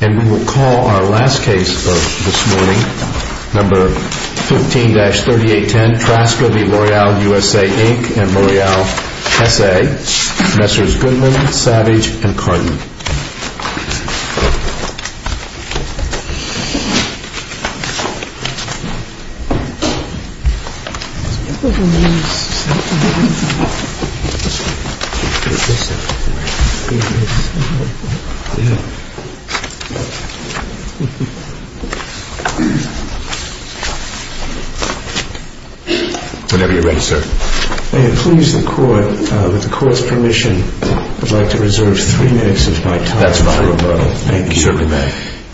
And we will call our last case of this morning, number 15-3810, Trzaska v. L'Oreal USA, Inc. and L'Oreal SA, Messrs. Goodman, Savage, and Cartman. May it please the Court, with the Court's permission, I would like to reserve three minutes of my time. That's fine. Thank you. You certainly may.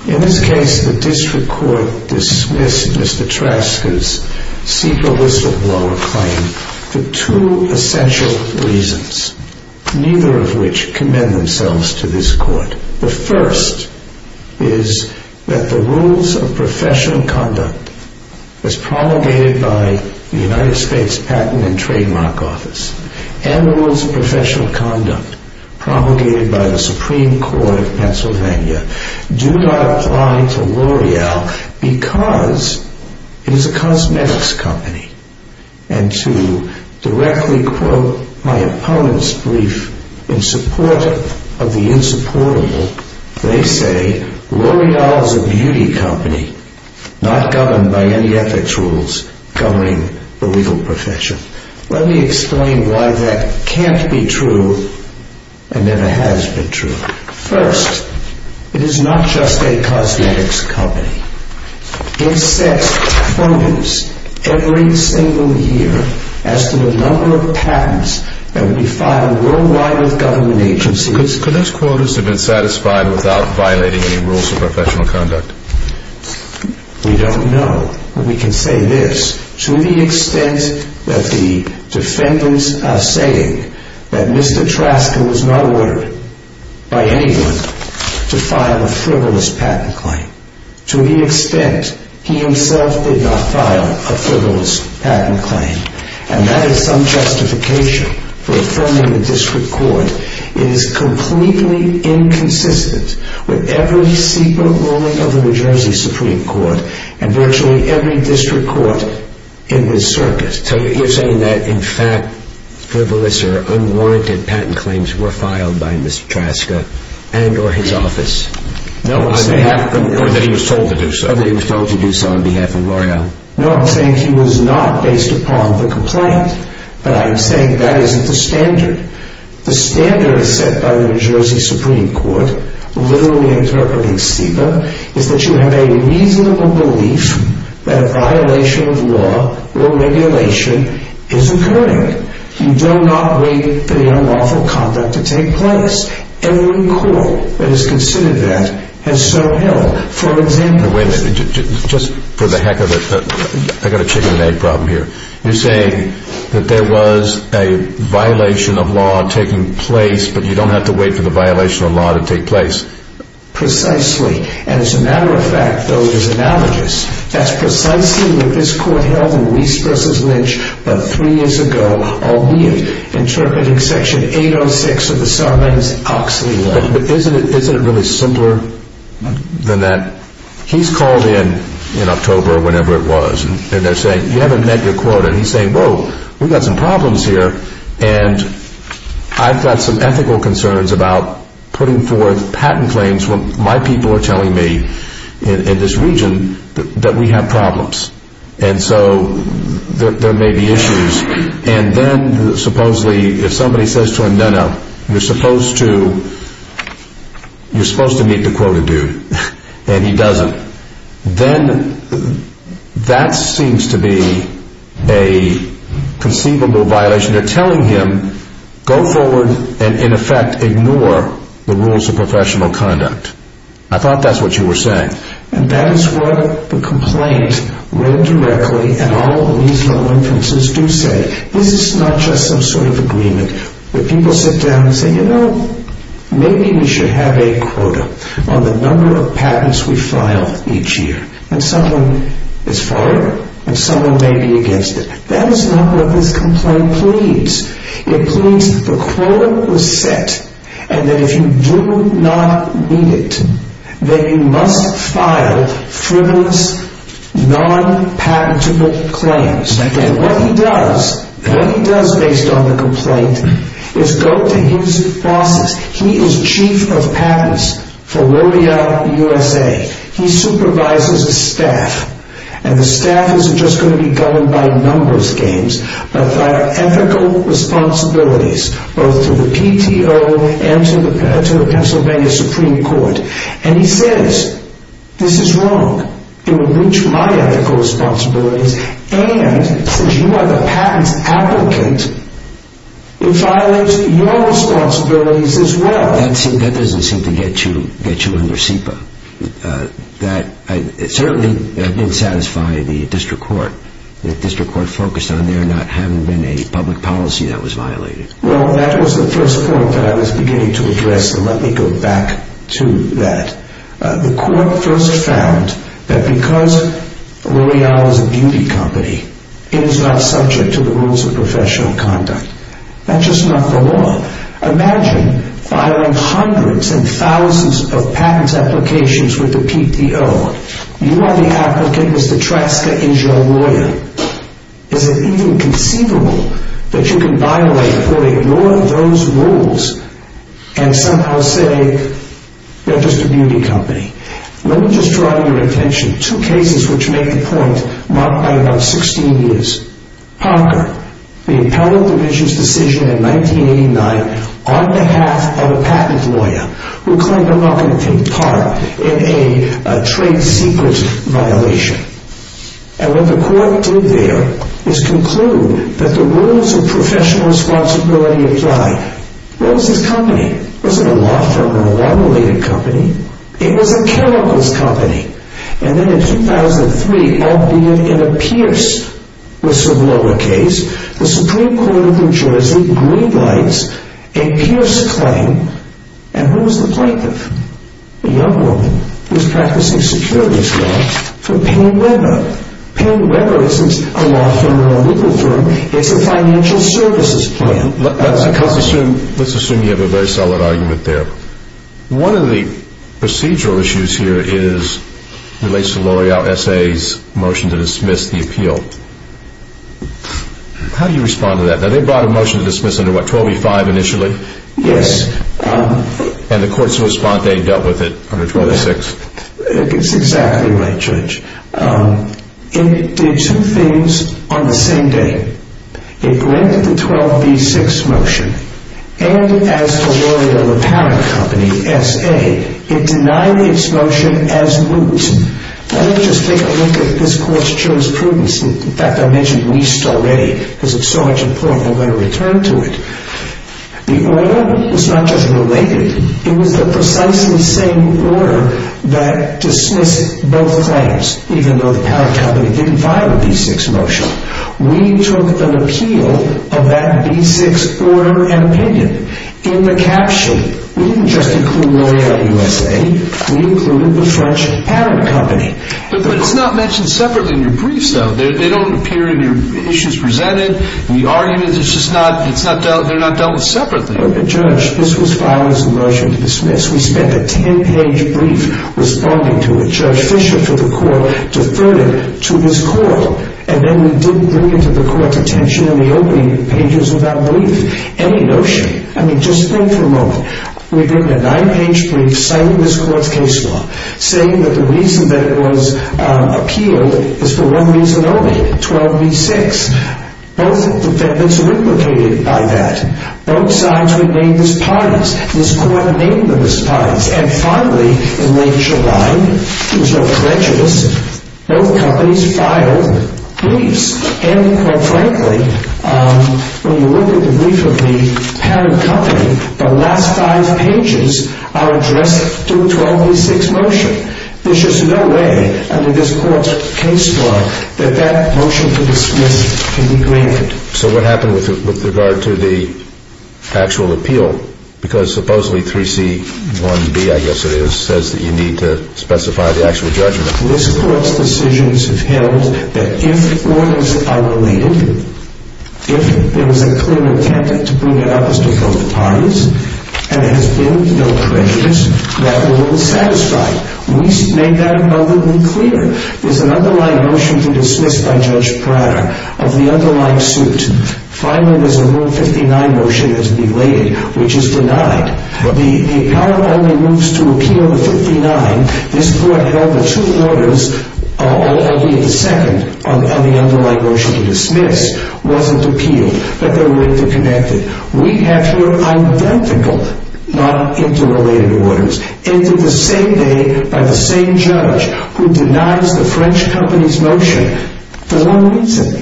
In this case, the District Court dismissed Mr. Trzaska's sequel whistleblower claim for two essential reasons, neither of which commend themselves to this Court. The first is that the rules of professional conduct as promulgated by the United States Patent and Trademark Office, and the rules of professional conduct promulgated by the Supreme Court of Pennsylvania, do not apply to L'Oreal because it is a cosmetics company. And to directly quote my opponent's brief in support of the insupportable, they say L'Oreal is a beauty company, not governed by any ethics rules governing the legal profession. Let me explain why that can't be true and never has been true. First, it is not just a cosmetics company. It sets quotas every single year as to the number of patents that will be filed worldwide with government agencies. Could those quotas have been satisfied without violating any rules of professional conduct? We don't know, but we can say this. To the extent that the defendants are saying that Mr. Trzaska was not ordered by anyone to file a frivolous patent claim, to the extent he himself did not file a frivolous patent claim, and that is some justification for affirming the District Court, it is completely inconsistent with every secret ruling of the New Jersey Supreme Court and virtually every district court in this circuit. So you're saying that, in fact, frivolous or unwarranted patent claims were filed by Mr. Trzaska and or his office? No, I'm saying... Or that he was told to do so. Or that he was told to do so on behalf of L'Oreal. No, I'm saying he was not based upon the complaint, but I'm saying that isn't the standard. The standard set by the New Jersey Supreme Court, literally interpreting Stiga, is that you have a reasonable belief that a violation of law or regulation is occurring. You do not wait for the unlawful conduct to take place. Every court that has considered that has so held. Wait a minute, just for the heck of it, I've got a chicken and egg problem here. You're saying that there was a violation of law taking place, but you don't have to wait for the violation of law to take place. Precisely. And as a matter of fact, though, it is analogous. That's precisely what this court held in Reese v. Lynch about three years ago, albeit interpreting Section 806 of the Sarbanes-Oxley Law. But isn't it really simpler than that? He's called in, in October or whenever it was, and they're saying, you haven't met your quota. And he's saying, whoa, we've got some problems here. And I've got some ethical concerns about putting forth patent claims when my people are telling me in this region that we have problems. And so there may be issues. And then, supposedly, if somebody says to him, no, no, you're supposed to meet the quota, dude. And he doesn't. Then that seems to be a conceivable violation. They're telling him, go forward and, in effect, ignore the rules of professional conduct. I thought that's what you were saying. And that is what the complaint read directly, and all of these low inferences do say. This is not just some sort of agreement where people sit down and say, you know, maybe we should have a quota on the number of patents we file each year. And someone is for it, and someone may be against it. That is not what this complaint pleads. It pleads the quota was set, and that if you do not meet it, then you must file frivolous, non-patentable claims. And what he does, what he does based on the complaint, is go to his bosses. He is chief of patents for L'Oreal USA. He supervises his staff. And the staff isn't just going to be governed by numbers games, but by ethical responsibilities, both to the PTO and to the Pennsylvania Supreme Court. And he says, this is wrong. It would breach my ethical responsibilities, and since you are the patents applicant, it violates your responsibilities as well. That doesn't seem to get you under SEPA. Certainly that didn't satisfy the district court. The district court focused on there not having been a public policy that was violated. Well, that was the first point that I was beginning to address, and let me go back to that. The court first found that because L'Oreal is a beauty company, it is not subject to the rules of professional conduct. That's just not the law. Imagine filing hundreds and thousands of patent applications with the PTO. You are the applicant, Mr. Traska is your lawyer. Is it even conceivable that you can violate, or ignore those rules, and somehow say, they're just a beauty company? Let me just draw to your attention two cases which make the point marked by about 16 years. Parker, the appellate division's decision in 1989 on behalf of a patent lawyer who claimed a marketing part in a trade secret violation. And what the court did there is conclude that the rules of professional responsibility apply. What was this company? It wasn't a law firm or a law-related company. It was a chemicals company. And then in 2003, albeit in a Pierce whistleblower case, the Supreme Court of New Jersey greenlights a Pierce claim. And who was the plaintiff? A young woman who was practicing securities law for Payne Webber. Payne Webber isn't a law firm or a legal firm. It's a financial services firm. Let's assume you have a very solid argument there. One of the procedural issues here relates to L'Oreal S.A.'s motion to dismiss the appeal. How do you respond to that? Now they brought a motion to dismiss under what, 12b-5 initially? Yes. And the court's response, they dealt with it under 12b-6? It's exactly right, Judge. It did two things on the same day. It granted the 12b-6 motion. And as the lawyer of the parent company, S.A., it denied its motion as moot. Let me just take a look at this court's jurisprudence. In fact, I mentioned least already because it's so much important. I'm going to return to it. The order was not just related. It was the precisely same order that dismissed both claims, even though the parent company didn't file a b-6 motion. We took an appeal of that b-6 order and opinion in the cap sheet. We didn't just include L'Oreal U.S.A. We included the French parent company. But it's not mentioned separately in your briefs, though. They don't appear in your issues presented. The arguments, it's just not dealt with separately. Judge, this was filed as a motion to dismiss. We spent a 10-page brief responding to it. And then we didn't bring it to the court's attention in the opening pages of that brief. Any notion. I mean, just think for a moment. We've written a 9-page brief citing this court's case law, saying that the reason that it was appealed is for one reason only, 12b-6. Both defendants were implicated by that. Both sides were named as parties. This court named them as parties. And finally, in late July, there was no prejudice. Both companies filed briefs. And, quite frankly, when you look at the brief of the parent company, the last five pages are addressed to a 12b-6 motion. There's just no way under this court's case law that that motion to dismiss can be granted. So what happened with regard to the actual appeal? Because supposedly 3C-1B, I guess it is, says that you need to specify the actual judgment. This court's decisions have held that if orders are related, if there was a clear intent to bring it up as to both parties, and there has been no prejudice, that will be satisfied. We made that abundantly clear. There's an underlying motion to dismiss by Judge Pratt of the underlying suit. Finally, there's a Rule 59 motion that's belated, which is denied. The power only moves to appeal the 59. This court held that two orders, albeit the second on the underlying motion to dismiss, wasn't appealed, that they were interconnected. We have here identical, not interrelated orders, entered the same day by the same judge who denies the French company's motion for one reason.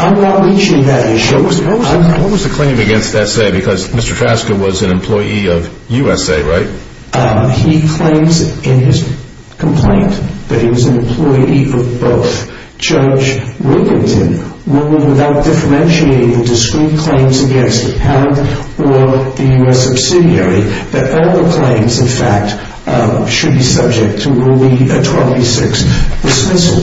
I'm not reaching that issue. What was the claim against S.A.? Because Mr. Trasker was an employee of U.S.A., right? He claims in his complaint that he was an employee of both. Judge Wiginton ruled without differentiating the discreet claims against the parent or the U.S. subsidiary, that all the claims, in fact, should be subject to Rule 26, dismissal.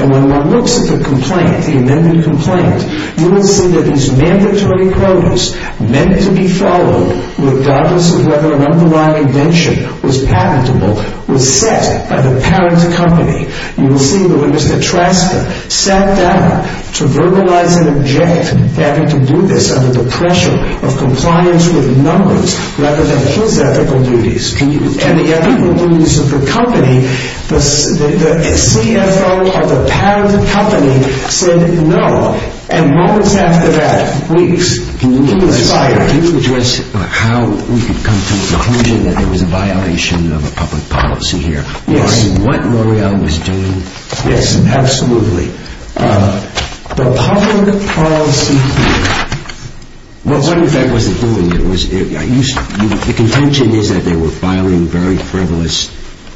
And when one looks at the complaint, the amended complaint, you will see that these mandatory quotas, meant to be followed regardless of whether an underlying invention was patentable, were set by the parent company. You will see that when Mr. Trasker sat down to verbalize and object, having to do this under the pressure of compliance with numbers rather than his ethical duties, and the ethical duties of the company, the CFO of the parent company said no. And moments after that, weeks, he was fired. Can you address how we could come to the conclusion that there was a violation of a public policy here? Yes. What L'Oreal was doing? Yes, absolutely. The public policy... Well, what in fact was it doing? The contention is that they were filing very frivolous,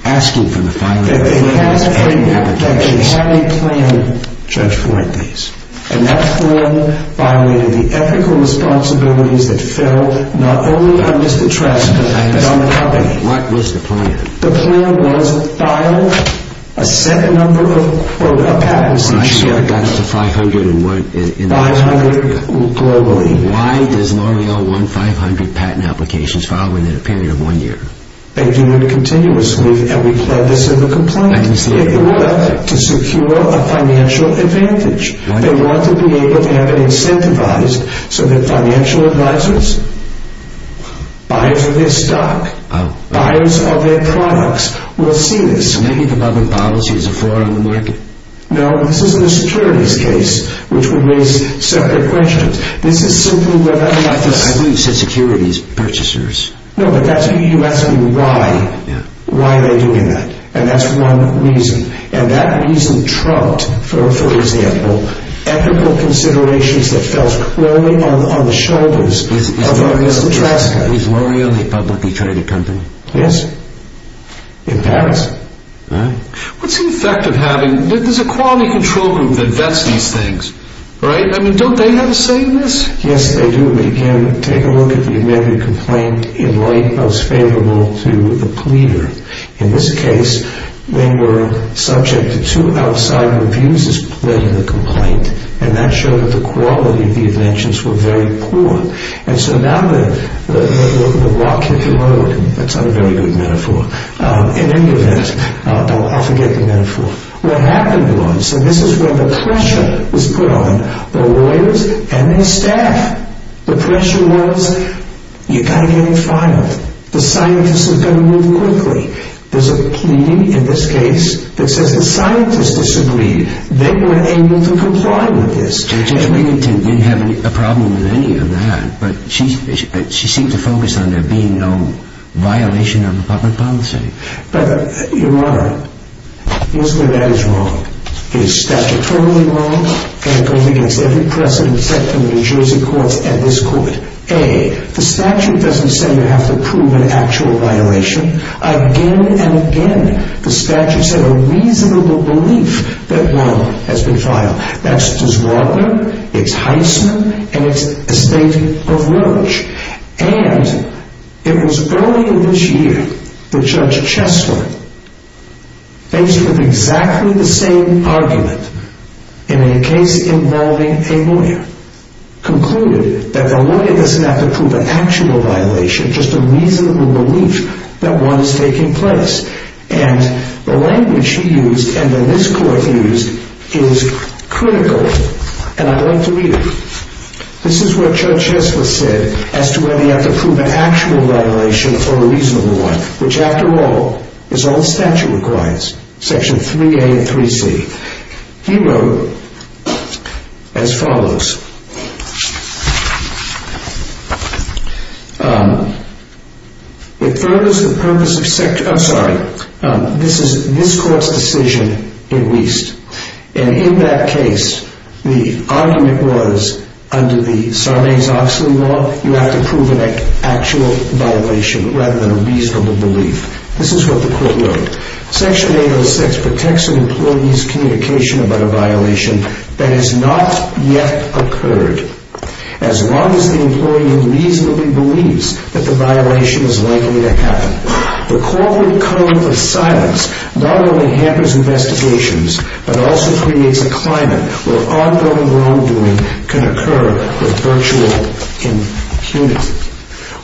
asking for the filing... That they had a plan, Judge Fuentes, and that plan violated the ethical responsibilities that fell not only on Mr. Trasker, but on the company. What was the plan? The plan was to file a set number of quota patents... I saw it got to 500 and went... 500 globally. Why does L'Oreal want 500 patent applications filed within a period of one year? They do it continuously, and we plead this in the complaint. I understand. They want to secure a financial advantage. They want to be able to have it incentivized so that financial advisors buy for their stock. Buyers of their products will see this. So maybe the public policy is a flaw in the market? No, this is an attorney's case, which would raise separate questions. I thought you said securities purchasers. No, but that's what you're asking why. Why are they doing that? And that's one reason. And that reason trumped, for example, ethical considerations that fell only on the shoulders of Mr. Trasker. Is L'Oreal the only publicly traded company? Yes. In Paris. What's the effect of having... There's a quality control group that vets these things. Don't they have a say in this? Yes, they do. Again, take a look at the amended complaint in light most favorable to the pleader. In this case, they were subject to two outside reviews as pled in the complaint, and that showed that the quality of the inventions were very poor. And so now the rock hit the road. That's not a very good metaphor. In any event, I'll forget the metaphor. What happened was that this is where the pressure was put on the lawyers and their staff. The pressure was you've got to get it filed. The scientists have got to move quickly. There's a plea in this case that says the scientists disagreed. They weren't able to comply with this. Judge Wiginton didn't have a problem with any of that, but she seemed to focus on there being no violation of public policy. But, Your Honor, you'll see that that is wrong. It is statutorily wrong, and it goes against every precedent set from the New Jersey courts at this court. A, the statute doesn't say you have to prove an actual violation. Again and again, the statute said a reasonable belief that one has been filed. That's disrobing, it's heisman, and it's a state of nudge. And it was earlier this year that Judge Chesler, faced with exactly the same argument in a case involving a lawyer, concluded that the lawyer doesn't have to prove an actual violation, just a reasonable belief that one is taking place. And the language he used, and that this court used, is critical. And I'd like to read it. This is what Judge Chesler said as to whether you have to prove an actual violation for a reasonable one, which, after all, is all the statute requires. Section 3A and 3C. He wrote as follows. It furthers the purpose of sect... I'm sorry. This is this court's decision in Wiest. And in that case, the argument was, under the Sarnez-Oxley law, you have to prove an actual violation rather than a reasonable belief. This is what the court wrote. But it also creates a climate where ongoing wrongdoing can occur with virtual impunity.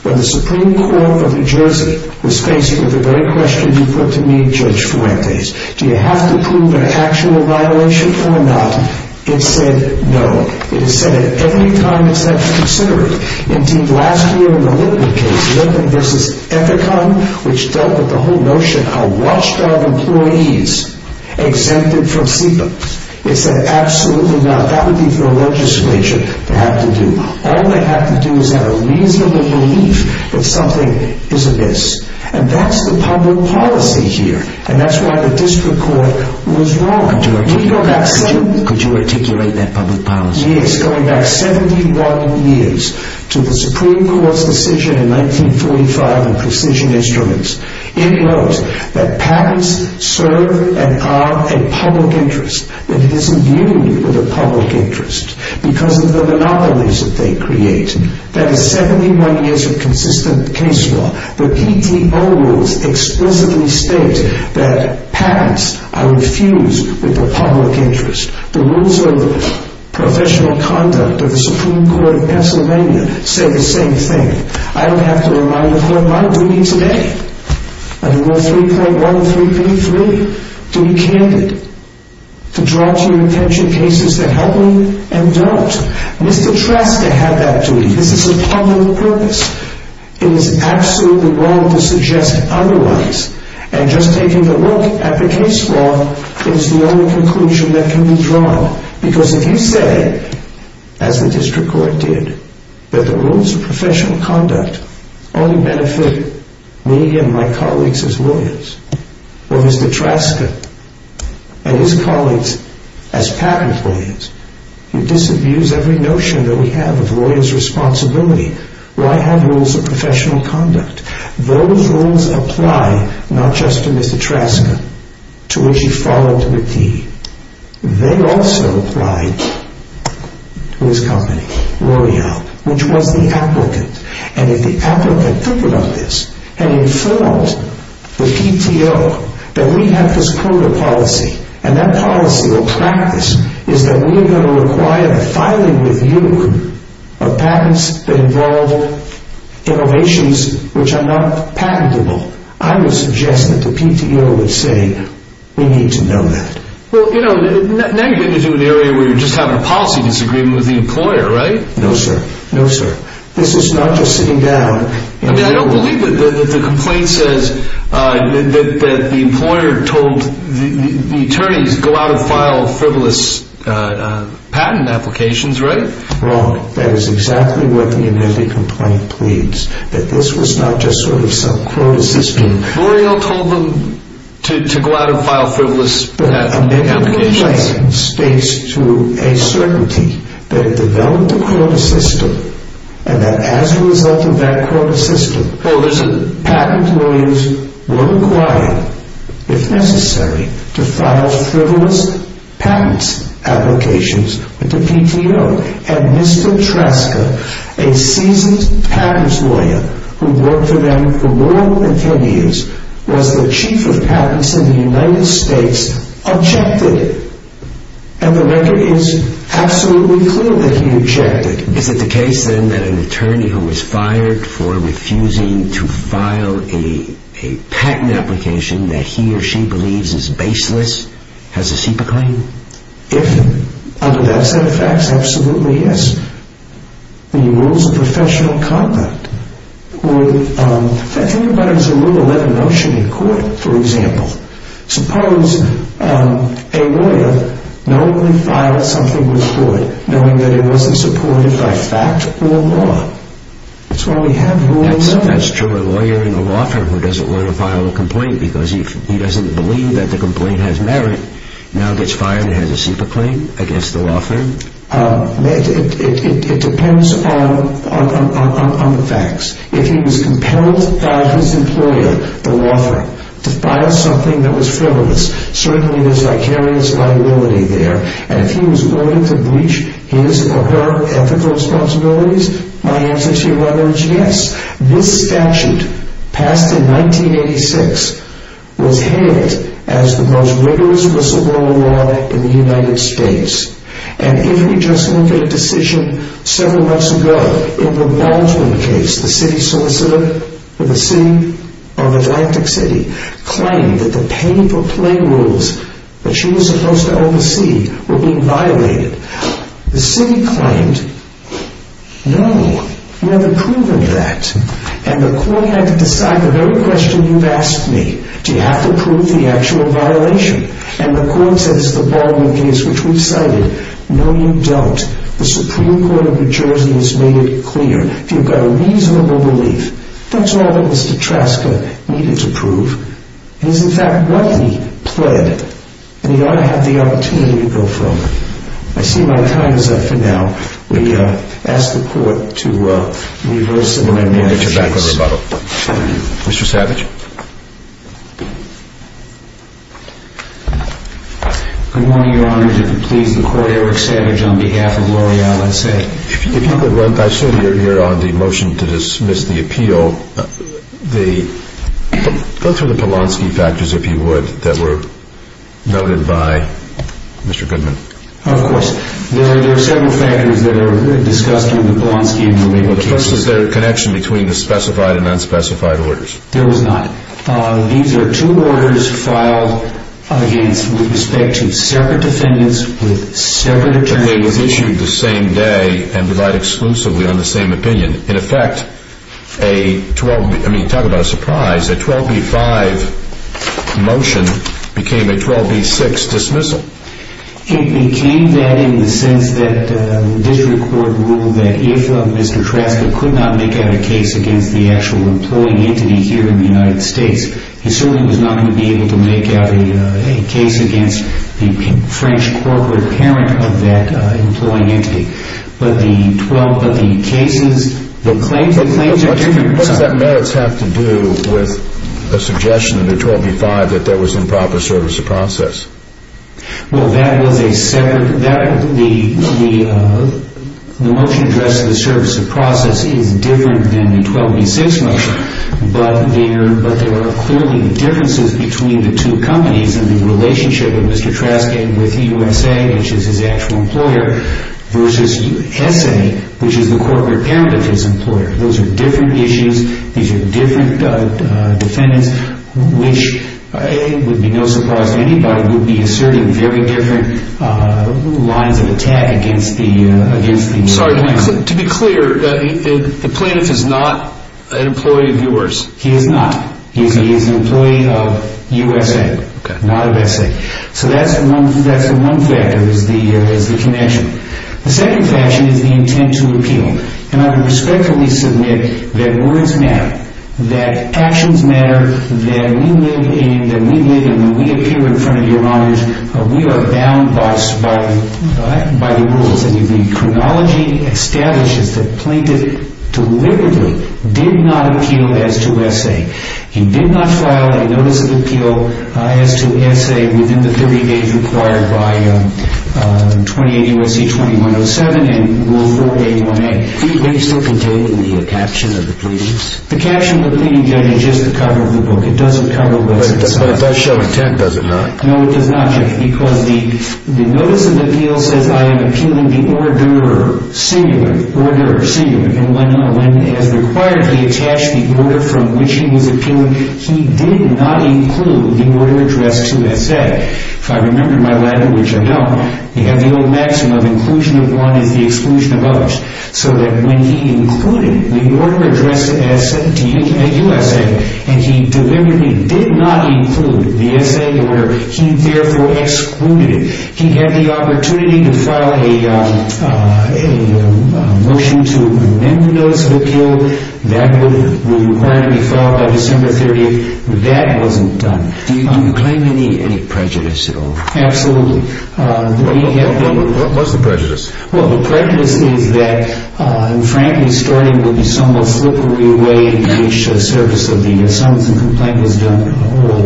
When the Supreme Court of New Jersey was faced with the very question you put to me, Judge Fuentes, do you have to prove an actual violation or not, it said no. It has said it every time it's had to consider it. Indeed, last year in the Litman case, Litman v. Ethicon, which dealt with the whole notion of watchdog employees exempted from SIPA. It said absolutely not. That would be for a legislature to have to do. All they have to do is have a reasonable belief that something is amiss. And that's the public policy here. And that's why the district court was wrong. Could you articulate that public policy? It's going back 71 years to the Supreme Court's decision in 1945 on precision instruments. It notes that patents serve and are a public interest. It is in union with a public interest because of the monopolies that they create. That is 71 years of consistent case law. The PTO rules explicitly state that patents are infused with the public interest. The rules of professional conduct of the Supreme Court of Pennsylvania say the same thing. I don't have to remind the court my duty today, under Rule 3.13b-3, to be candid. To draw to your attention cases that help me and don't. Mr. Trasta had that duty. This is a public purpose. It is absolutely wrong to suggest otherwise. And just taking a look at the case law is the only conclusion that can be drawn. Because if you say, as the district court did, that the rules of professional conduct only benefit me and my colleagues as lawyers, or Mr. Trasta and his colleagues as patent lawyers, who disabuse every notion that we have of lawyer's responsibility, why have rules of professional conduct? Those rules apply not just to Mr. Trasta, to which he followed to a T. They also apply to his company, Royale, which was the applicant. And if the applicant took note of this and informed the PTO that we have this quota policy, and that policy or practice is that we are going to require the filing with you of patents that involve innovations which are not patentable, I would suggest that the PTO would say, we need to know that. Well, you know, now you're getting into an area where you're just having a policy disagreement with the employer, right? No, sir. No, sir. This is not just sitting down. I mean, I don't believe that the complaint says that the employer told the attorneys, go out and file frivolous patent applications, right? Wrong. That is exactly what the amended complaint pleads, that this was not just sort of some quota system. Royale told them to go out and file frivolous patent applications. But the amended complaint states to a certainty that it developed a quota system, and that as a result of that quota system, patent lawyers were required, if necessary, to file frivolous patent applications with the PTO. And Mr. Traska, a seasoned patents lawyer who worked for them for more than 10 years, was the chief of patents in the United States, objected. And the matter is absolutely clear that he objected. Is it the case, then, that an attorney who is fired for refusing to file a patent application that he or she believes is baseless has a CIPA claim? If, under that set of facts, absolutely, yes. The rules of professional conduct would affect anybody who is a rule 11 motion in court, for example. Suppose a lawyer not only filed something with court, knowing that it wasn't supported by fact or law. That's why we have rule 11. That's true of a lawyer and a law firm who doesn't want to file a complaint because he doesn't believe that the complaint has merit, now gets fired and has a CIPA claim against the law firm? It depends on the facts. If he was compelled by his employer, the law firm, to file something that was frivolous, certainly there's vicarious liability there. And if he was willing to breach his or her ethical responsibilities, my answer to your letter is yes. This statute, passed in 1986, was hailed as the most rigorous whistleblower law in the United States. And if we just look at a decision several months ago in the Baldwin case, the city solicitor for the city of Atlantic City, claimed that the pay-per-play rules that she was supposed to oversee were being violated. The city claimed, no, you haven't proven that. And the court had to decide the very question you've asked me, do you have to prove the actual violation? And the court said it's the Baldwin case, which we've cited. No, you don't. The Supreme Court of New Jersey has made it clear. You've got a reasonable belief. That's all that Mr. Traska needed to prove. It is, in fact, what he pled. And he ought to have the opportunity to go for it. I see my time is up for now. We ask the court to reverse the amendment in this case. We'll get you back on rebuttal. Thank you. Mr. Savage. Good morning, Your Honor. Did it please the court, Eric Savage, on behalf of L'Oreal, I'd say. If you could run, I assume you're here on the motion to dismiss the appeal. Go through the Polonsky factors, if you would, that were noted by Mr. Goodman. Of course. There are several factors that are discussed in the Polonsky amendment. First, is there a connection between the specified and unspecified orders? There is not. These are two orders filed against with respect to separate defendants with separate attorneys. And they were issued the same day and relied exclusively on the same opinion. In effect, talk about a surprise, a 12b-5 motion became a 12b-6 dismissal. It became that in the sense that the district court ruled that if Mr. Trasker could not make a case against the actual employing entity here in the United States, he certainly was not going to be able to make out a case against the French corporate parent of that employing entity. But the claims are different. What does that merits have to do with the suggestion in the 12b-5 that there was improper service of process? Well, the motion addressing the service of process is different than the 12b-6 motion. But there are clearly differences between the two companies in the relationship of Mr. Trasker with USA, which is his actual employer, versus SA, which is the corporate parent of his employer. Those are different issues. These are different defendants, which it would be no surprise to anybody would be asserting very different lines of attack against the United States. Sorry to be clear, the plaintiff is not an employee of yours? He is not. He is an employee of USA. Not of SA. So that's one factor is the connection. The second factor is the intent to appeal. And I would respectfully submit that words matter, that actions matter, that we live and when we appear in front of your honors, we are bound by the rules. And the chronology establishes that the plaintiff deliberately did not appeal as to SA. He did not file a notice of appeal as to SA within the 30 days required by 28 U.S.C. 2107 and Rule 4A1A. Do you think it's still contained in the caption of the pleadings? The caption of the pleading judge is just the cover of the book. It doesn't cover what's inside. But it does show intent, does it not? No, it does not, Jeff, because the notice of appeal says, I am appealing the order, singular, order, singular. And when, as required, he attached the order from which he was appealing, he did not include the order addressed to SA. If I remember my letter, which I don't, we have the old maxim of inclusion of one is the exclusion of others. So that when he included the order addressed to USA, and he deliberately did not include the SA order, he therefore excluded it. He had the opportunity to file a motion to amend the notice of appeal. That would be required to be filed by December 30th. But that wasn't done. Do you claim any prejudice at all? Absolutely. What's the prejudice? Well, the prejudice is that, frankly, Storting would be somewhat slippery away in each service of the assumption the complaint was done at all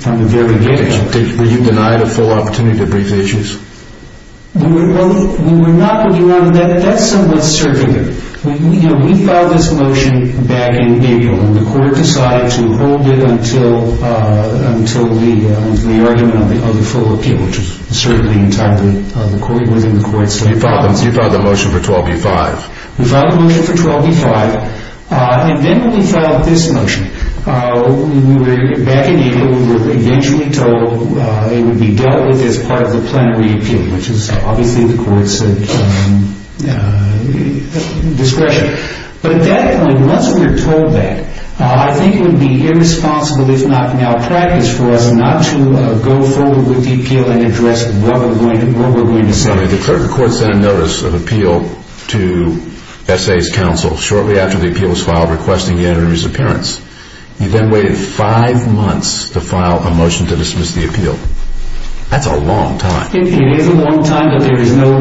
from the very beginning. Were you denied a full opportunity to brief the issues? We were not. That's somewhat circular. You know, we filed this motion back in April, and the court decided to hold it until the argument of the full appeal, which is certainly entirely within the court's limits. You filed the motion for 12B-5. We filed the motion for 12B-5. And then when we filed this motion, we were back in April. We were eventually told it would be dealt with as part of the plenary appeal, which is obviously the court's discretion. But at that point, once we were told that, I think it would be irresponsible, if not malpractice, for us not to go forward with the appeal and address what we're going to say. The court sent a notice of appeal to SA's counsel shortly after the appeal was filed requesting the attorney's appearance. You then waited five months to file a motion to dismiss the appeal. That's a long time. It is a long time, but there is no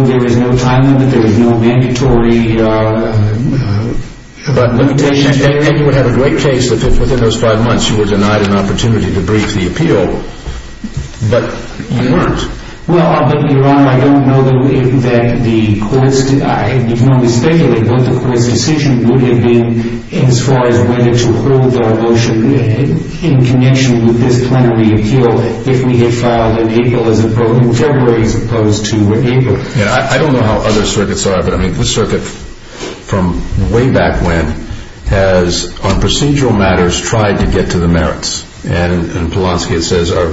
time limit. There is no mandatory limitation. And you would have a great case if, within those five months, you were denied an opportunity to brief the appeal. But you weren't. Well, Your Honor, I don't know that the courts did. I can only speculate what the court's decision would have been as far as whether to hold our motion in connection with this plenary appeal if we had filed in April as opposed to April. I don't know how other circuits are, but this circuit, from way back when, has, on procedural matters, tried to get to the merits. And in Polonsky it says, or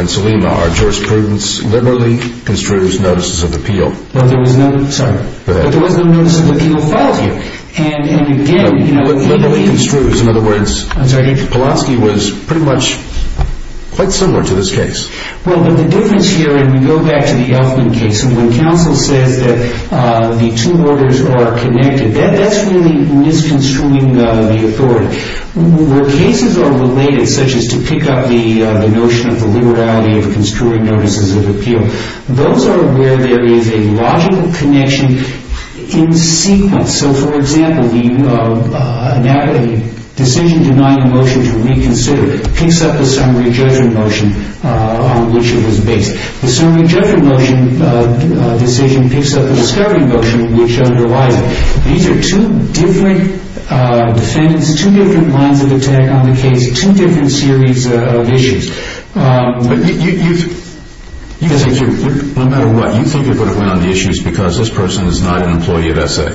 in Salima, our jurisprudence liberally construes notices of appeal. But there was no notice of appeal filed here. But liberally construes. In other words, Polonsky was pretty much quite similar to this case. Well, the difference here, and we go back to the Elfman case, when counsel says that the two orders are connected, that's really misconstruing the authority. Where cases are related, such as to pick up the notion of the liberality of construing notices of appeal, those are where there is a logical connection in sequence. So, for example, the decision denying a motion to reconsider picks up the summary judgment motion on which it was based. The summary judgment motion decision picks up the discovery motion which underlies it. These are two different defendants, two different lines of attack on the case, two different series of issues. But you think, no matter what, you think it would have went on the issues because this person is not an employee of SA.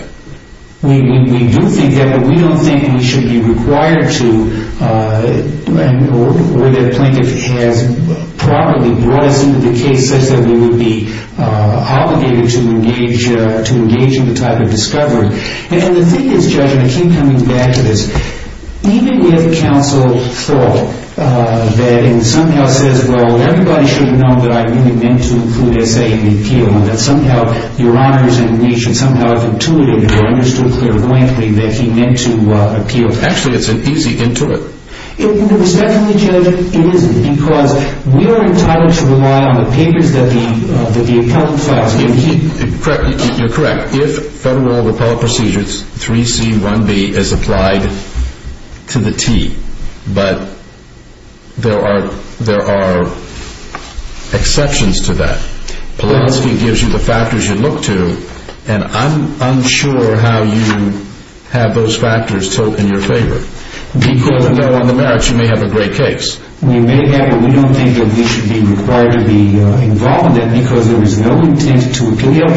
We do think that, but we don't think we should be required to, or that a plaintiff has properly brought us into the case such that we would be obligated to engage in the type of discovery. And the thing is, Judge, and I keep coming back to this, even if counsel thought that and somehow says, well, everybody should know that I really meant to include SA in the appeal and that somehow your honors and the nation somehow have intuited or understood clairvoyantly that he meant to appeal. Actually, it's an easy intuit. Respectfully, Judge, it isn't, because we are entitled to rely on the papers that the appellant files. You're correct. In fact, if federal appellate procedures 3C1B is applied to the T, but there are exceptions to that, Polanski gives you the factors you look to, and I'm unsure how you have those factors in your favor. Because I know on the merits you may have a great case. We may have, but we don't think that we should be required to be involved in it because there was no intent to appeal.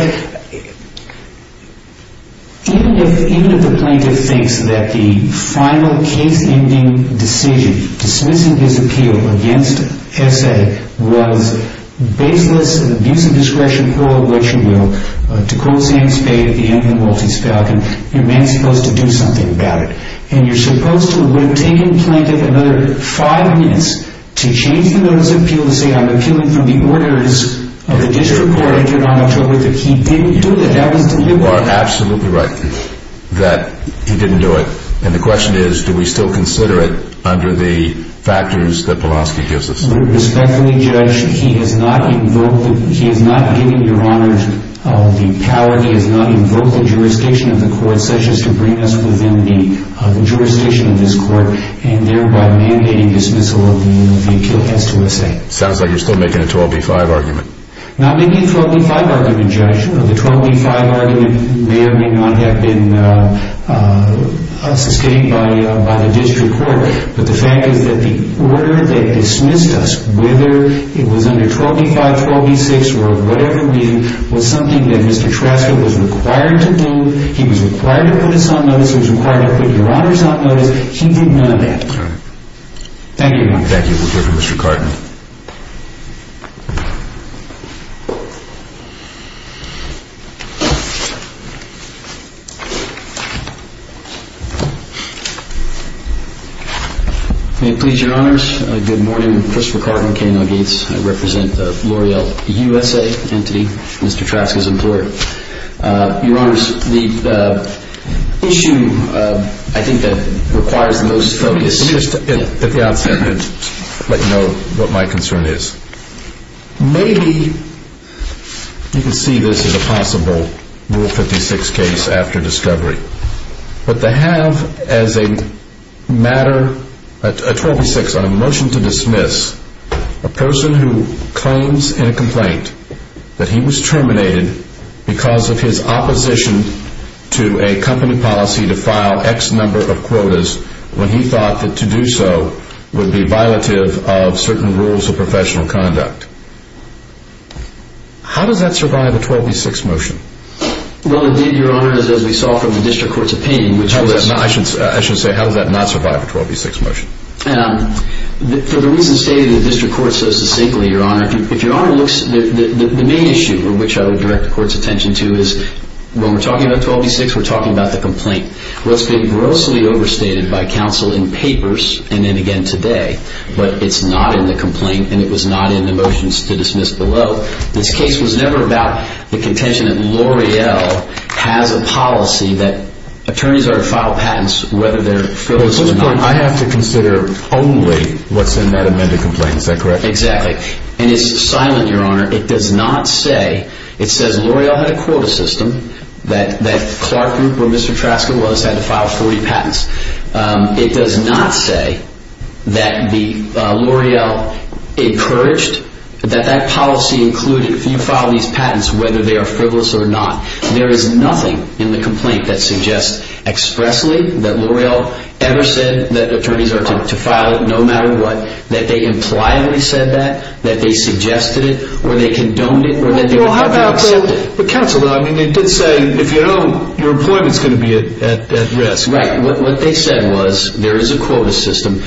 Even if the plaintiff thinks that the final case-ending decision, dismissing his appeal against SA, was baseless abuse of discretion, or what you will, to quote Sam Spade at the end of The Maltese Falcon, your man's supposed to do something about it. And you're supposed to have taken the plaintiff another five minutes to change the notice of appeal to say, I'm appealing from the orders of the district court, that he didn't do it, that was deliberate. You are absolutely right that he didn't do it. And the question is, do we still consider it under the factors that Polanski gives us? Respectfully, Judge, he has not given Your Honor the power, he has not invoked the jurisdiction of the court, such as to bring us within the jurisdiction of this court, and thereby mandating dismissal of the appeal against USA. Sounds like you're still making a 12b-5 argument. Not making a 12b-5 argument, Judge. The 12b-5 argument may or may not have been sustained by the district court, but the fact is that the order that dismissed us, whether it was under 12b-5, 12b-6, or whatever reason, was something that Mr. Trasker was required to do, he was required to put us on notice, he was required to put Your Honors on notice, and he did none of that. Thank you, Your Honor. Thank you. We'll hear from Mr. Cartman. May it please Your Honors, good morning. Christopher Cartman, K&L Gates. I represent L'Oreal USA entity, Mr. Trasker's employer. Your Honors, the issue I think that requires the most focus... Let me just at the outset let you know what my concern is. Maybe you can see this as a possible Rule 56 case after discovery, but to have as a matter a 12b-6 on a motion to dismiss a person who claims in a complaint that he was terminated because of his opposition to a company policy to file X number of quotas when he thought that to do so would be violative of certain rules of professional conduct. How does that survive a 12b-6 motion? Well, indeed, Your Honors, as we saw from the district court's opinion, which was... I should say, how does that not survive a 12b-6 motion? For the reason stated in the district court so succinctly, Your Honor, the main issue which I would direct the court's attention to is, when we're talking about 12b-6, we're talking about the complaint. Well, it's been grossly overstated by counsel in papers and then again today, but it's not in the complaint and it was not in the motions to dismiss below. This case was never about the contention that L'Oreal has a policy that attorneys are to file patents whether they're filled or not. At this point, I have to consider only what's in that amended complaint, is that correct? Exactly, and it's silent, Your Honor. It does not say, it says L'Oreal had a quota system, that Clark Group, where Mr. Trasker was, had to file 40 patents. It does not say that L'Oreal encouraged that that policy included, if you file these patents, whether they are frivolous or not. There is nothing in the complaint that suggests expressly that L'Oreal ever said that attorneys are to file no matter what, that they impliedly said that, that they suggested it, or they condoned it, or that they would have to accept it. Well, how about the counsel? I mean, they did say, if you don't, your employment's going to be at risk. Right, what they said was, there is a quota system.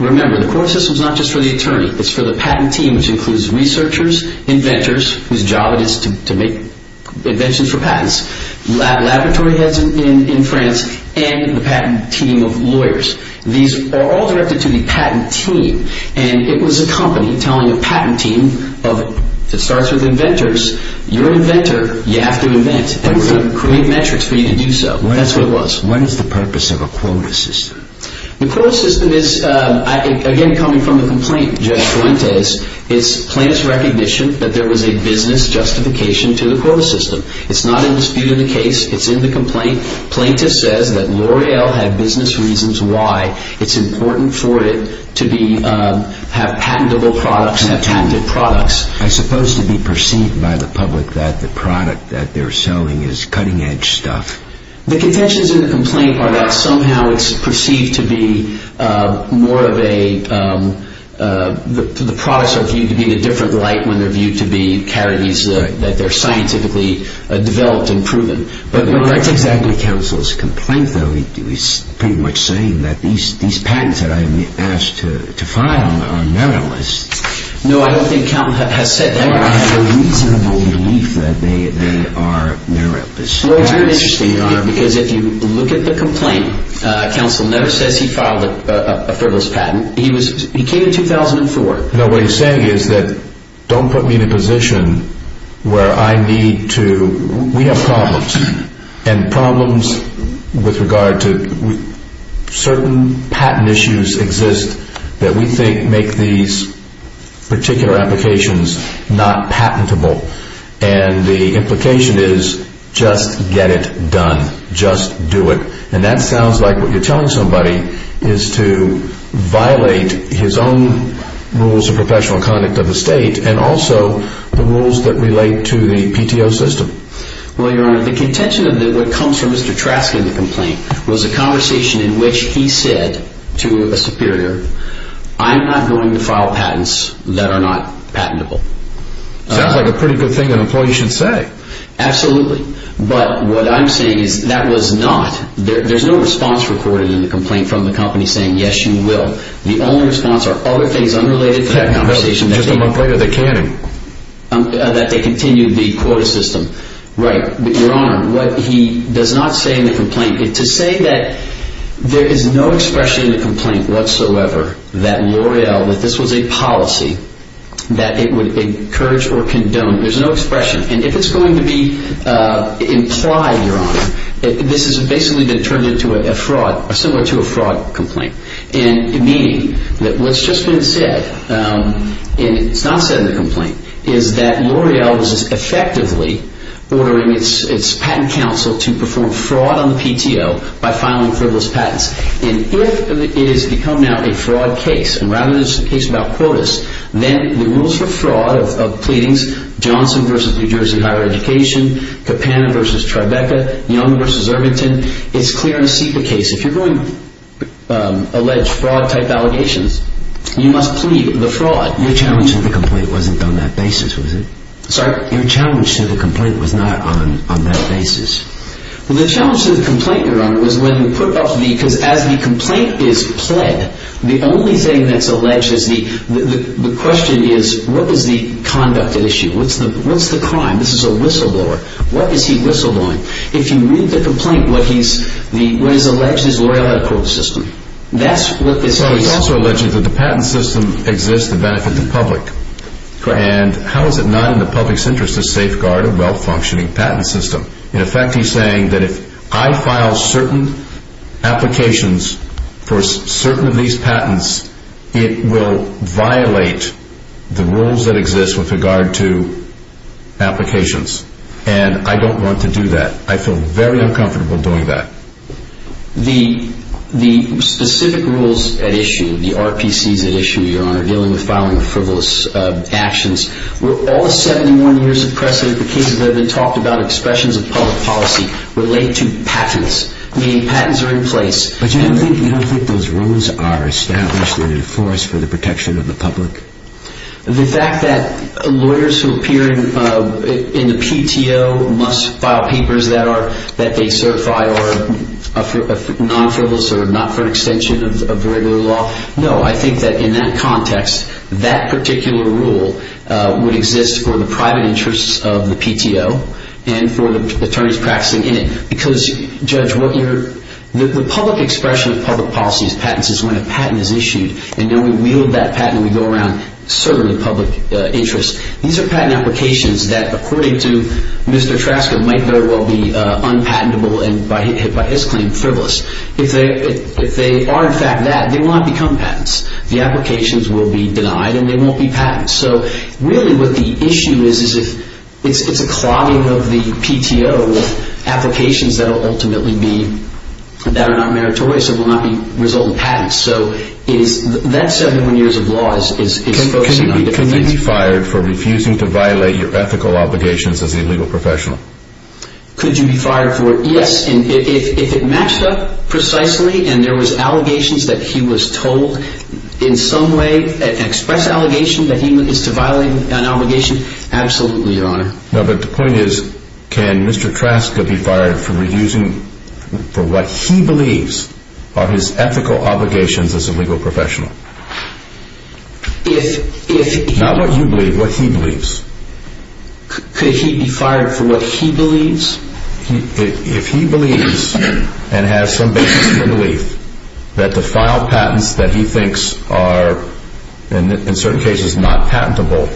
Remember, the quota system's not just for the attorney. It's for the patent team, which includes researchers, inventors, whose job it is to make inventions for patents, laboratory heads in France, and the patent team of lawyers. These are all directed to the patent team, and it was a company telling a patent team, if it starts with inventors, you're an inventor, you have to invent. They were going to create metrics for you to do so. That's what it was. What is the purpose of a quota system? The quota system is, again, coming from the complaint, Judge Fuentes, it's plaintiff's recognition that there was a business justification to the quota system. It's not in dispute in the case. It's in the complaint. Plaintiff says that L'Oreal had business reasons why it's important for it to be, have patentable products and have patented products. I suppose to be perceived by the public that the product that they're selling is cutting-edge stuff. The contentions in the complaint are that somehow it's perceived to be more of a, the products are viewed to be in a different light when they're viewed to be charities that they're scientifically developed and proven. But that's exactly counsel's complaint, though. He's pretty much saying that these patents that I'm asked to file are meritless. No, I don't think counsel has said that. I have a reasonable belief that they are meritless. Well, it's very interesting, Your Honor, because if you look at the complaint, counsel never says he filed a frivolous patent. He came in 2004. No, what he's saying is that don't put me in a position where I need to, we have problems, and problems with regard to certain patent issues exist that we think make these particular applications not patentable. And the implication is just get it done. Just do it. And that sounds like what you're telling somebody is to violate his own rules of professional conduct of the state and also the rules that relate to the PTO system. Well, Your Honor, the contention of what comes from Mr. Trask in the complaint was a conversation in which he said to a superior, I'm not going to file patents that are not patentable. Sounds like a pretty good thing an employee should say. Absolutely. But what I'm saying is that was not, there's no response recorded in the complaint from the company saying yes, you will. The only response are other things unrelated to that conversation. Just a complaint of the canning. That they continue the quota system. Right. Your Honor, what he does not say in the complaint, to say that there is no expression in the complaint whatsoever that L'Oreal, that this was a policy that it would encourage or condone, there's no expression. And if it's going to be implied, Your Honor, this is basically been turned into a fraud, similar to a fraud complaint. And meaning that what's just been said, and it's not said in the complaint, is that L'Oreal is effectively ordering its patent counsel to perform fraud on the PTO by filing frivolous patents. And if it has become now a fraud case, and rather than just a case about quotas, then the rules for fraud of pleadings, Johnson v. New Jersey Higher Education, Capana v. Tribeca, Young v. Irvington, it's clear in a SEPA case, if you're going to allege fraud type allegations, you must plead the fraud. Your challenge to the complaint wasn't on that basis, was it? Sorry? Your challenge to the complaint was not on that basis. The challenge to the complaint, Your Honor, was when you put up the, because as the complaint is pled, the only thing that's alleged is the, the question is, what is the conduct at issue? What's the crime? This is a whistleblower. What is he whistleblowing? If you read the complaint, what he's, what is alleged is L'Oreal had a quota system. That's what this case is. But it's also alleged that the patent system exists to benefit the public. Correct. And how is it not in the public's interest to safeguard a well-functioning patent system? In effect, he's saying that if I file certain applications for certain of these patents, it will violate the rules that exist with regard to applications. And I don't want to do that. I feel very uncomfortable doing that. The, the specific rules at issue, the RPCs at issue, Your Honor, dealing with filing frivolous actions, all the 71 years of precedent, the cases that have been talked about, expressions of public policy, relate to patents, meaning patents are in place. But you don't think, you don't think those rules are established and enforced for the protection of the public? The fact that lawyers who appear in, in the PTO must file papers that are, that they certify are non-frivolous or not for an extension of the regular law, no, I think that in that context, that particular rule would exist for the private interests of the PTO and for the attorneys practicing in it. Because, Judge, what your, the public expression of public policy is patents is when a patent is issued and then we wield that patent and we go around serving the public interest. These are patent applications that, according to Mr. Trasker, might very well be unpatentable and by his claim, frivolous. If they, if they are in fact that, they will not become patents. The applications will be denied and they won't be patents. So really what the issue is, is if, it's a clogging of the PTO with applications that will ultimately be, that are not meritorious and will not result in patents. So it is, that 71 years of law is, is focusing on different things. Could you be fired for refusing to violate your ethical obligations as a legal professional? Could you be fired for it? Yes. If it matched up precisely and there was allegations that he was told in some way, an express allegation, that he is to violate an obligation, absolutely, Your Honor. No, but the point is, can Mr. Trasker be fired for refusing, for what he believes are his ethical obligations as a legal professional? If, if... Not what you believe, what he believes. Could he be fired for what he believes? He, if he believes and has some basis in the belief that the final patents that he thinks are, in certain cases, not patentable,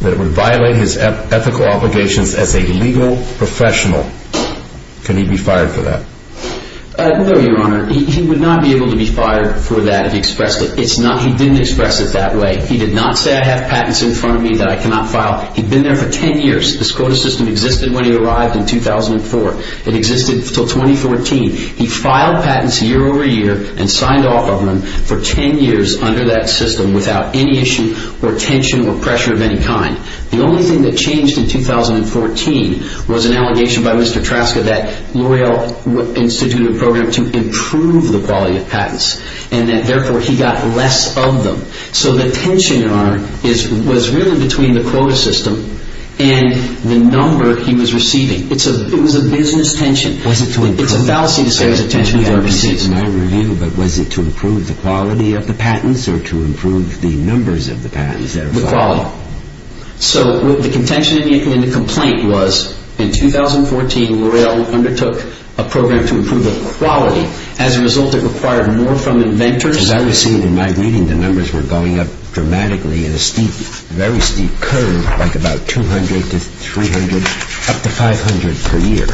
that it would violate his ethical obligations as a legal professional, can he be fired for that? No, Your Honor. He, he would not be able to be fired for that, if he expressed it. It's not, he didn't express it that way. He did not say, I have patents in front of me that I cannot file. He'd been there for 10 years. This quota system existed when he arrived in 2004. It existed until 2014. He filed patents year over year and signed off on them for 10 years under that system without any issue or tension or pressure of any kind. The only thing that changed in 2014 was an allegation by Mr. Traska that L'Oreal instituted a program to improve the quality of patents and that, therefore, he got less of them. So the tension, Your Honor, is, was really between the quota system and the number he was receiving. It's a, it was a business tension. Was it to improve? It's a fallacy to say it was a tension with RBC. I haven't seen my review, but was it to improve the quality of the patents or to improve the numbers of the patents that were filed? The quality. So the contention in the complaint was, in 2014, L'Oreal undertook a program to improve the quality. As a result, it required more from inventors. Because I was seeing in my reading the numbers were going up dramatically in a steep, very steep curve, like about 200 to 300, up to 500 per year.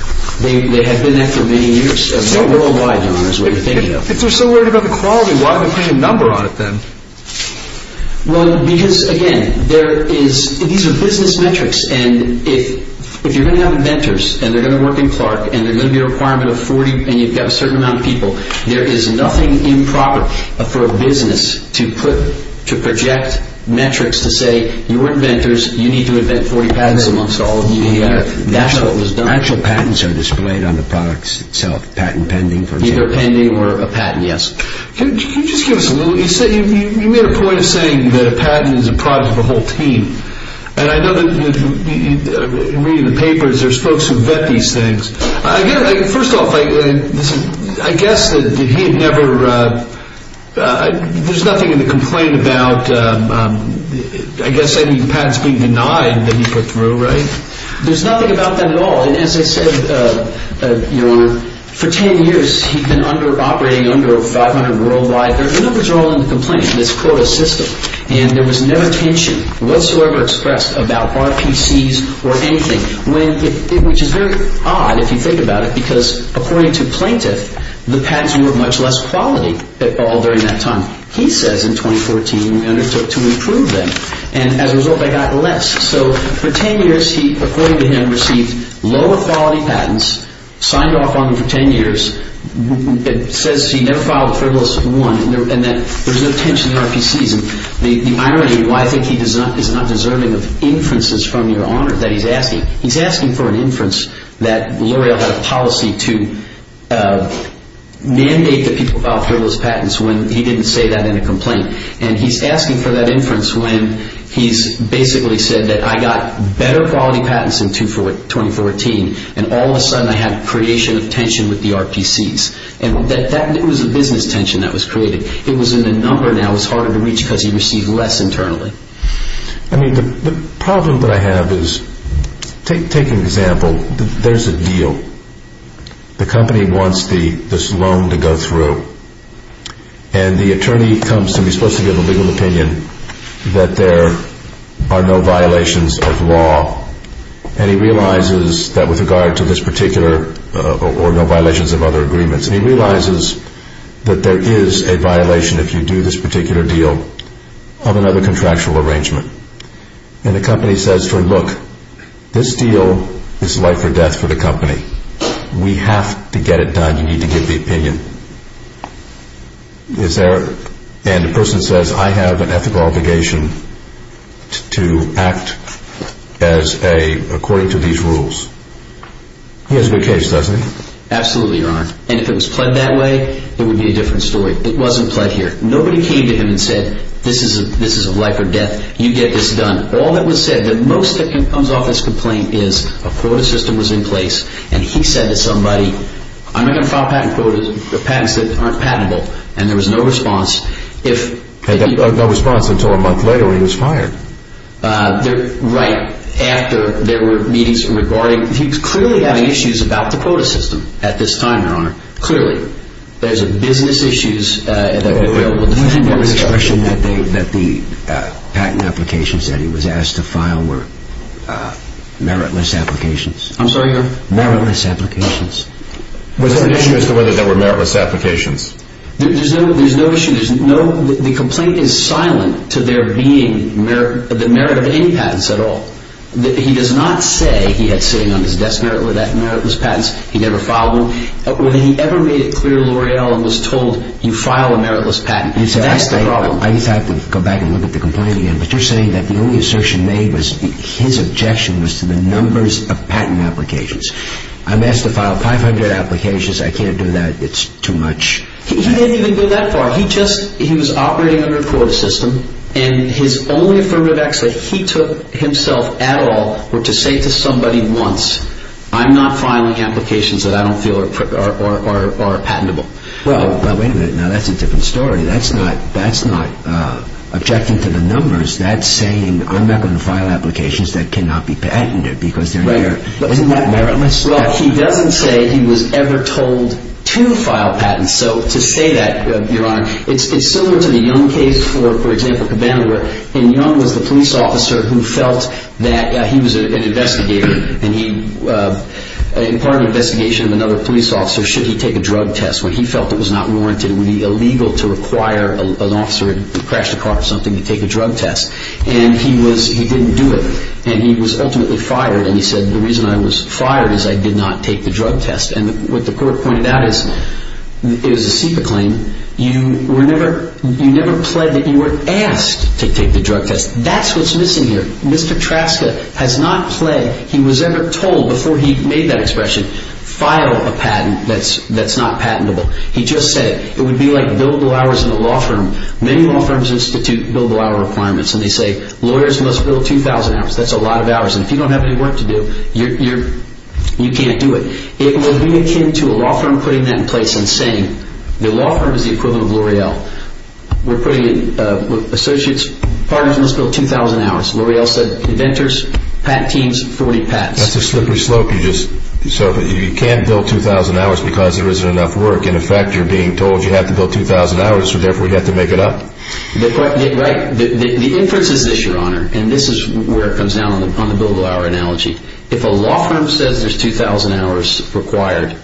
They had been that for many years, worldwide, Your Honor, is what you're thinking of. If they're so worried about the quality, why would they put a number on it then? Well, because, again, there is, these are business metrics, and if, if you're going to have inventors, and they're going to work in Clark, and they're going to be a requirement of 40, and you've got a certain amount of people, there is nothing improper for a business to put, to project metrics to say, you're inventors, you need to invent 40 patents amongst all of you in the area. That's what was done. Actual patents are displayed on the products itself. Patent pending, for example. Either pending or a patent, yes. Can you just give us a little, you said, you made a point of saying that a patent is a product of a whole team. And I know that, in reading the papers, there's folks who vet these things. I get it. First off, I guess that he had never, there's nothing in the complaint about, I guess, any patents being denied that he put through, right? There's nothing about that at all. And as I said, Your Honor, for 10 years, he'd been under, operating under 500 worldwide. The numbers are all in the complaint. It's called a system. And there was no attention whatsoever expressed about RPCs or anything. Which is very odd, if you think about it, because, according to Plaintiff, the patents were of much less quality all during that time. He says, in 2014, undertook to improve them. And as a result, they got less. So, for 10 years, he, according to him, received lower quality patents, signed off on them for 10 years. It says he never filed a frivolous one, and that there's no tension in RPCs. And the irony, why I think he is not deserving of inferences from Your Honor, that he's asking. He's asking for an inference that L'Oreal had a policy to mandate that people file frivolous patents when he didn't say that in a complaint. And he's asking for that inference when he's basically said that, I got better quality patents in 2014, and all of a sudden, I had creation of tension with the RPCs. And that was a business tension that was created. It was in the number now. It was harder to reach because he received less internally. I mean, the problem that I have is, take an example. There's a deal. The company wants this loan to go through. And the attorney comes to me. He's supposed to give a legal opinion that there are no violations of law. And he realizes that, with regard to this particular, or no violations of other agreements. And he realizes that there is a violation, if you do this particular deal, of another contractual arrangement. And the company says, look, this deal is life or death for the company. We have to get it done. You need to give the opinion. And the person says, I have an ethical obligation to act according to these rules. He has a good case, doesn't he? Absolutely, Your Honor. And if it was pled that way, it would be a different story. It wasn't pled here. Nobody came to him and said, this is a life or death. You get this done. All that was said, the most that comes off this complaint is, a quota system was in place. And he said to somebody, I'm not going to file patent quotas for patents that aren't patentable. And there was no response. No response until a month later, when he was fired. Right. After there were meetings regarding, he was clearly having issues about the quota system at this time, Your Honor. Clearly. There's business issues. Do you think there was a question that the patent applications that he was asked to file were meritless applications? I'm sorry, Your Honor? Meritless applications. Was there an issue as to whether there were meritless applications? There's no issue. The complaint is silent to there being the merit of any patents at all. He does not say, he had sitting on his desk meritless patents. He never filed them. When he ever made it clear, L'Oreal was told, you file a meritless patent. That's the problem. I just have to go back and look at the complaint again. But you're saying that the only assertion made was, his objection was to the numbers of patent applications. I'm asked to file 500 applications. I can't do that. It's too much. He didn't even go that far. He was operating under a quota system. And his only affirmative action that he took himself at all was to say to somebody once, I'm not filing applications that I don't feel are patentable. Well, wait a minute. Now that's a different story. That's not objecting to the numbers. That's saying, I'm not going to file applications that cannot be patented because they're there. Isn't that meritless? Well, he doesn't say he was ever told to file patents. So to say that, Your Honor, it's similar to the Young case. For example, Cabana, when Young was the police officer who felt that he was an investigator and part of the investigation of another police officer, should he take a drug test when he felt it was not warranted, it would be illegal to require an officer who crashed a car or something to take a drug test. And he didn't do it. And he was ultimately fired. And he said, the reason I was fired is I did not take the drug test. And what the court pointed out is it was a SEPA claim. You never pled that you were asked to take the drug test. That's what's missing here. Mr. Traska has not pled, he was never told, before he made that expression, file a patent that's not patentable. He just said it. It would be like billable hours in a law firm. Many law firms institute billable hour requirements and they say, lawyers must bill 2,000 hours. That's a lot of hours. And if you don't have any work to do, you can't do it. It will be akin to a law firm putting that in place and saying, the law firm is the equivalent of L'Oreal. We're putting in, associates, partners must bill 2,000 hours. L'Oreal said, inventors, patent teams, 40 patents. That's a slippery slope. You can't bill 2,000 hours because there isn't enough work. In effect, you're being told you have to bill 2,000 hours so therefore you have to make it up. Right. The inference is this, Your Honor. And this is where it comes down on the billable hour analogy. If a law firm says there's 2,000 hours required,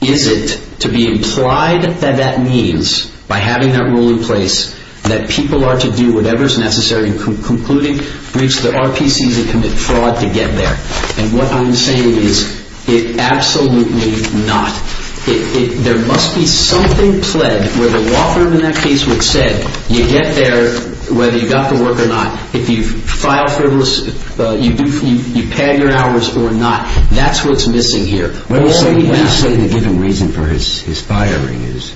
is it to be implied that that means, by having that rule in place, that people are to do whatever is necessary in concluding, breach the RPCs, and commit fraud to get there? And what I'm saying is, it absolutely not. There must be something pled where the law firm in that case would have said, you get there whether you got the work or not. If you file for, you pad your hours or not. That's what's missing here. What do you say the given reason for his firing is?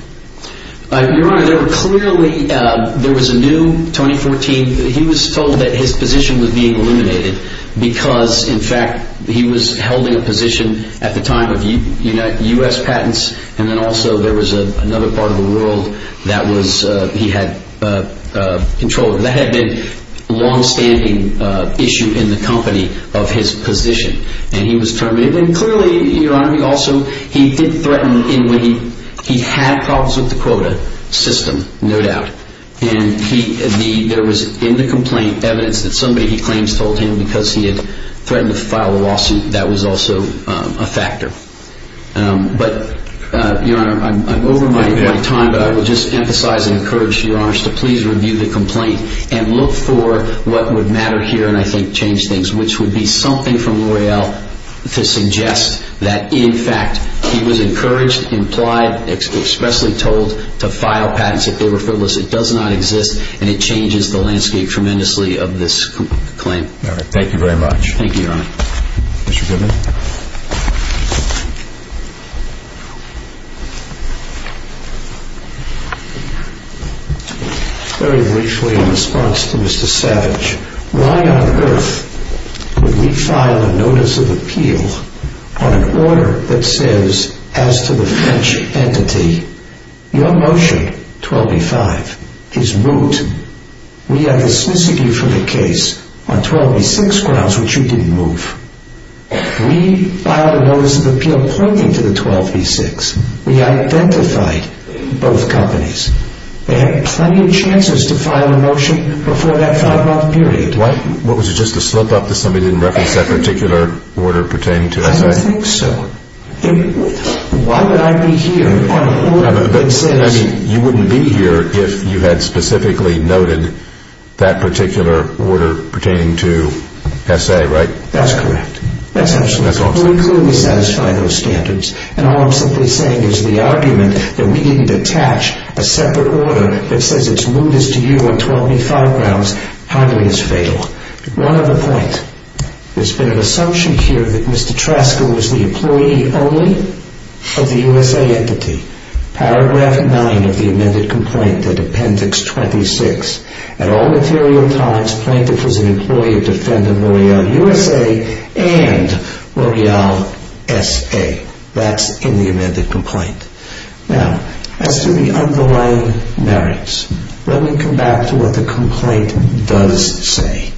Your Honor, there were clearly, there was a new 2014, he was told that his position was being eliminated because, in fact, he was holding a position at the time of U.S. patents and then also there was another part of the world that he had control of. That had been a long-standing issue in the company of his position. And he was terminated. And clearly, Your Honor, he also, he did threaten in what he, he had problems with the quota system, no doubt. And he, there was in the complaint evidence that somebody he claims told him because he had threatened to file a lawsuit that was also a factor. But, Your Honor, I'm over my time, but I will just emphasize and encourage Your Honors to please review the complaint and look for what would matter here and I think change things, which would be something to suggest that, in fact, he was encouraged, implied, expressly told to file patents if they were frivolous. It does not exist and it changes the landscape tremendously of this claim. All right. Thank you very much. Thank you, Your Honor. Mr. Goodman. Very briefly, in response to Mr. Savage, why on earth would we file a notice of appeal on an order that says, as to the French entity, your motion, 12b-5, is moot. We are dismissing you from the case on 12b-6 grounds, which you didn't move. We filed a notice of appeal pointing to the 12b-6. We identified both companies. They had plenty of chances to file a motion before that five-month period. What was it, just a slip-up that somebody didn't reference that particular order pertaining to S.A.? I don't think so. Why would I be here on an order that says... You wouldn't be here if you had specifically noted that particular order pertaining to S.A., right? That's correct. That's absolutely correct. We clearly satisfy those standards. And all I'm simply saying is the argument that we didn't attach a separate order that says it's moot as to you on 12b-5 grounds hardly is fatal. One other point. There's been an assumption here that Mr. Trasker was the employee only of the U.S.A. entity. Paragraph 9 of the amended complaint at Appendix 26. At all material times, Plaintiff was an employee of Defender Royale U.S.A. and Royale S.A. That's in the amended complaint. Now, as to the underlying merits, let me come back to what the complaint does say.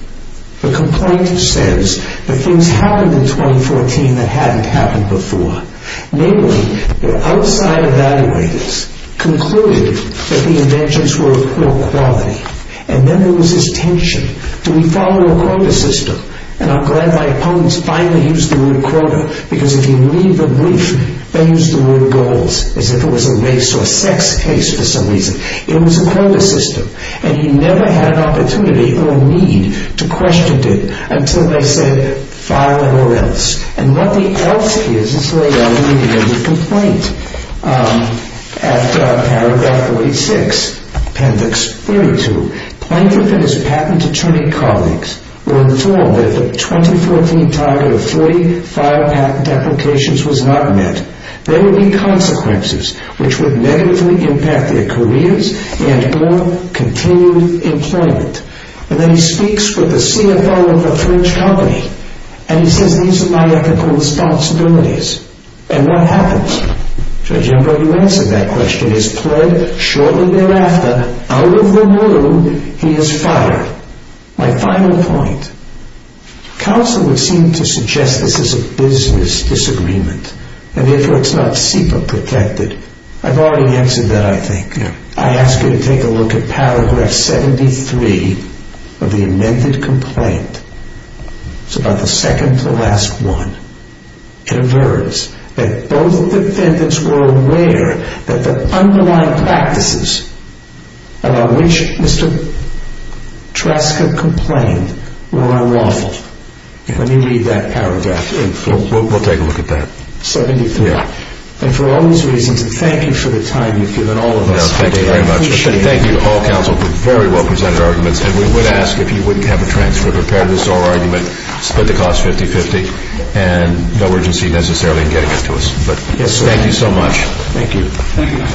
The complaint says that things happened in 2014 that hadn't happened before. Namely, the outside evaluators concluded that the inventions were of poor quality. And then there was this tension. Do we follow a quota system? And I'm glad my opponents finally used the word quota because if you leave the brief, they use the word goals as if it was a race or sex case for some reason. It was a quota system. And you never had an opportunity or a need to question it until they said, file it or else. And what the else is is laid out immediately in the complaint. At Paragraph 46, Appendix 32, Plaintiff and his patent attorney colleagues were informed that the 2014 target of three file patent applications was not met. There would be consequences which would negatively impact their careers and their continued employment. And then he speaks with the CFO of a French company and he says, these are my ethical responsibilities. And what happens? Judge Embro, you answered that question. He's pled shortly thereafter. Out of the womb, he is fired. My final point. Counsel would seem to suggest this is a business disagreement and therefore it's not SIPA protected. I've already answered that, I think. I ask you to take a look at Paragraph 73 of the amended complaint. It's about the second to last one. In a verse, that both defendants were aware that the underlying practices about which Mr. Trask had complained were unlawful. Let me read that paragraph. We'll take a look at that. 73. And for all those reasons, thank you for the time you've given all of us today. I appreciate it. Thank you to all counsel for very well presented arguments. And we would ask if you wouldn't have a transfer to prepare this oral argument, split the cost 50-50, and no urgency necessarily in getting it to us. Thank you so much. Thank you.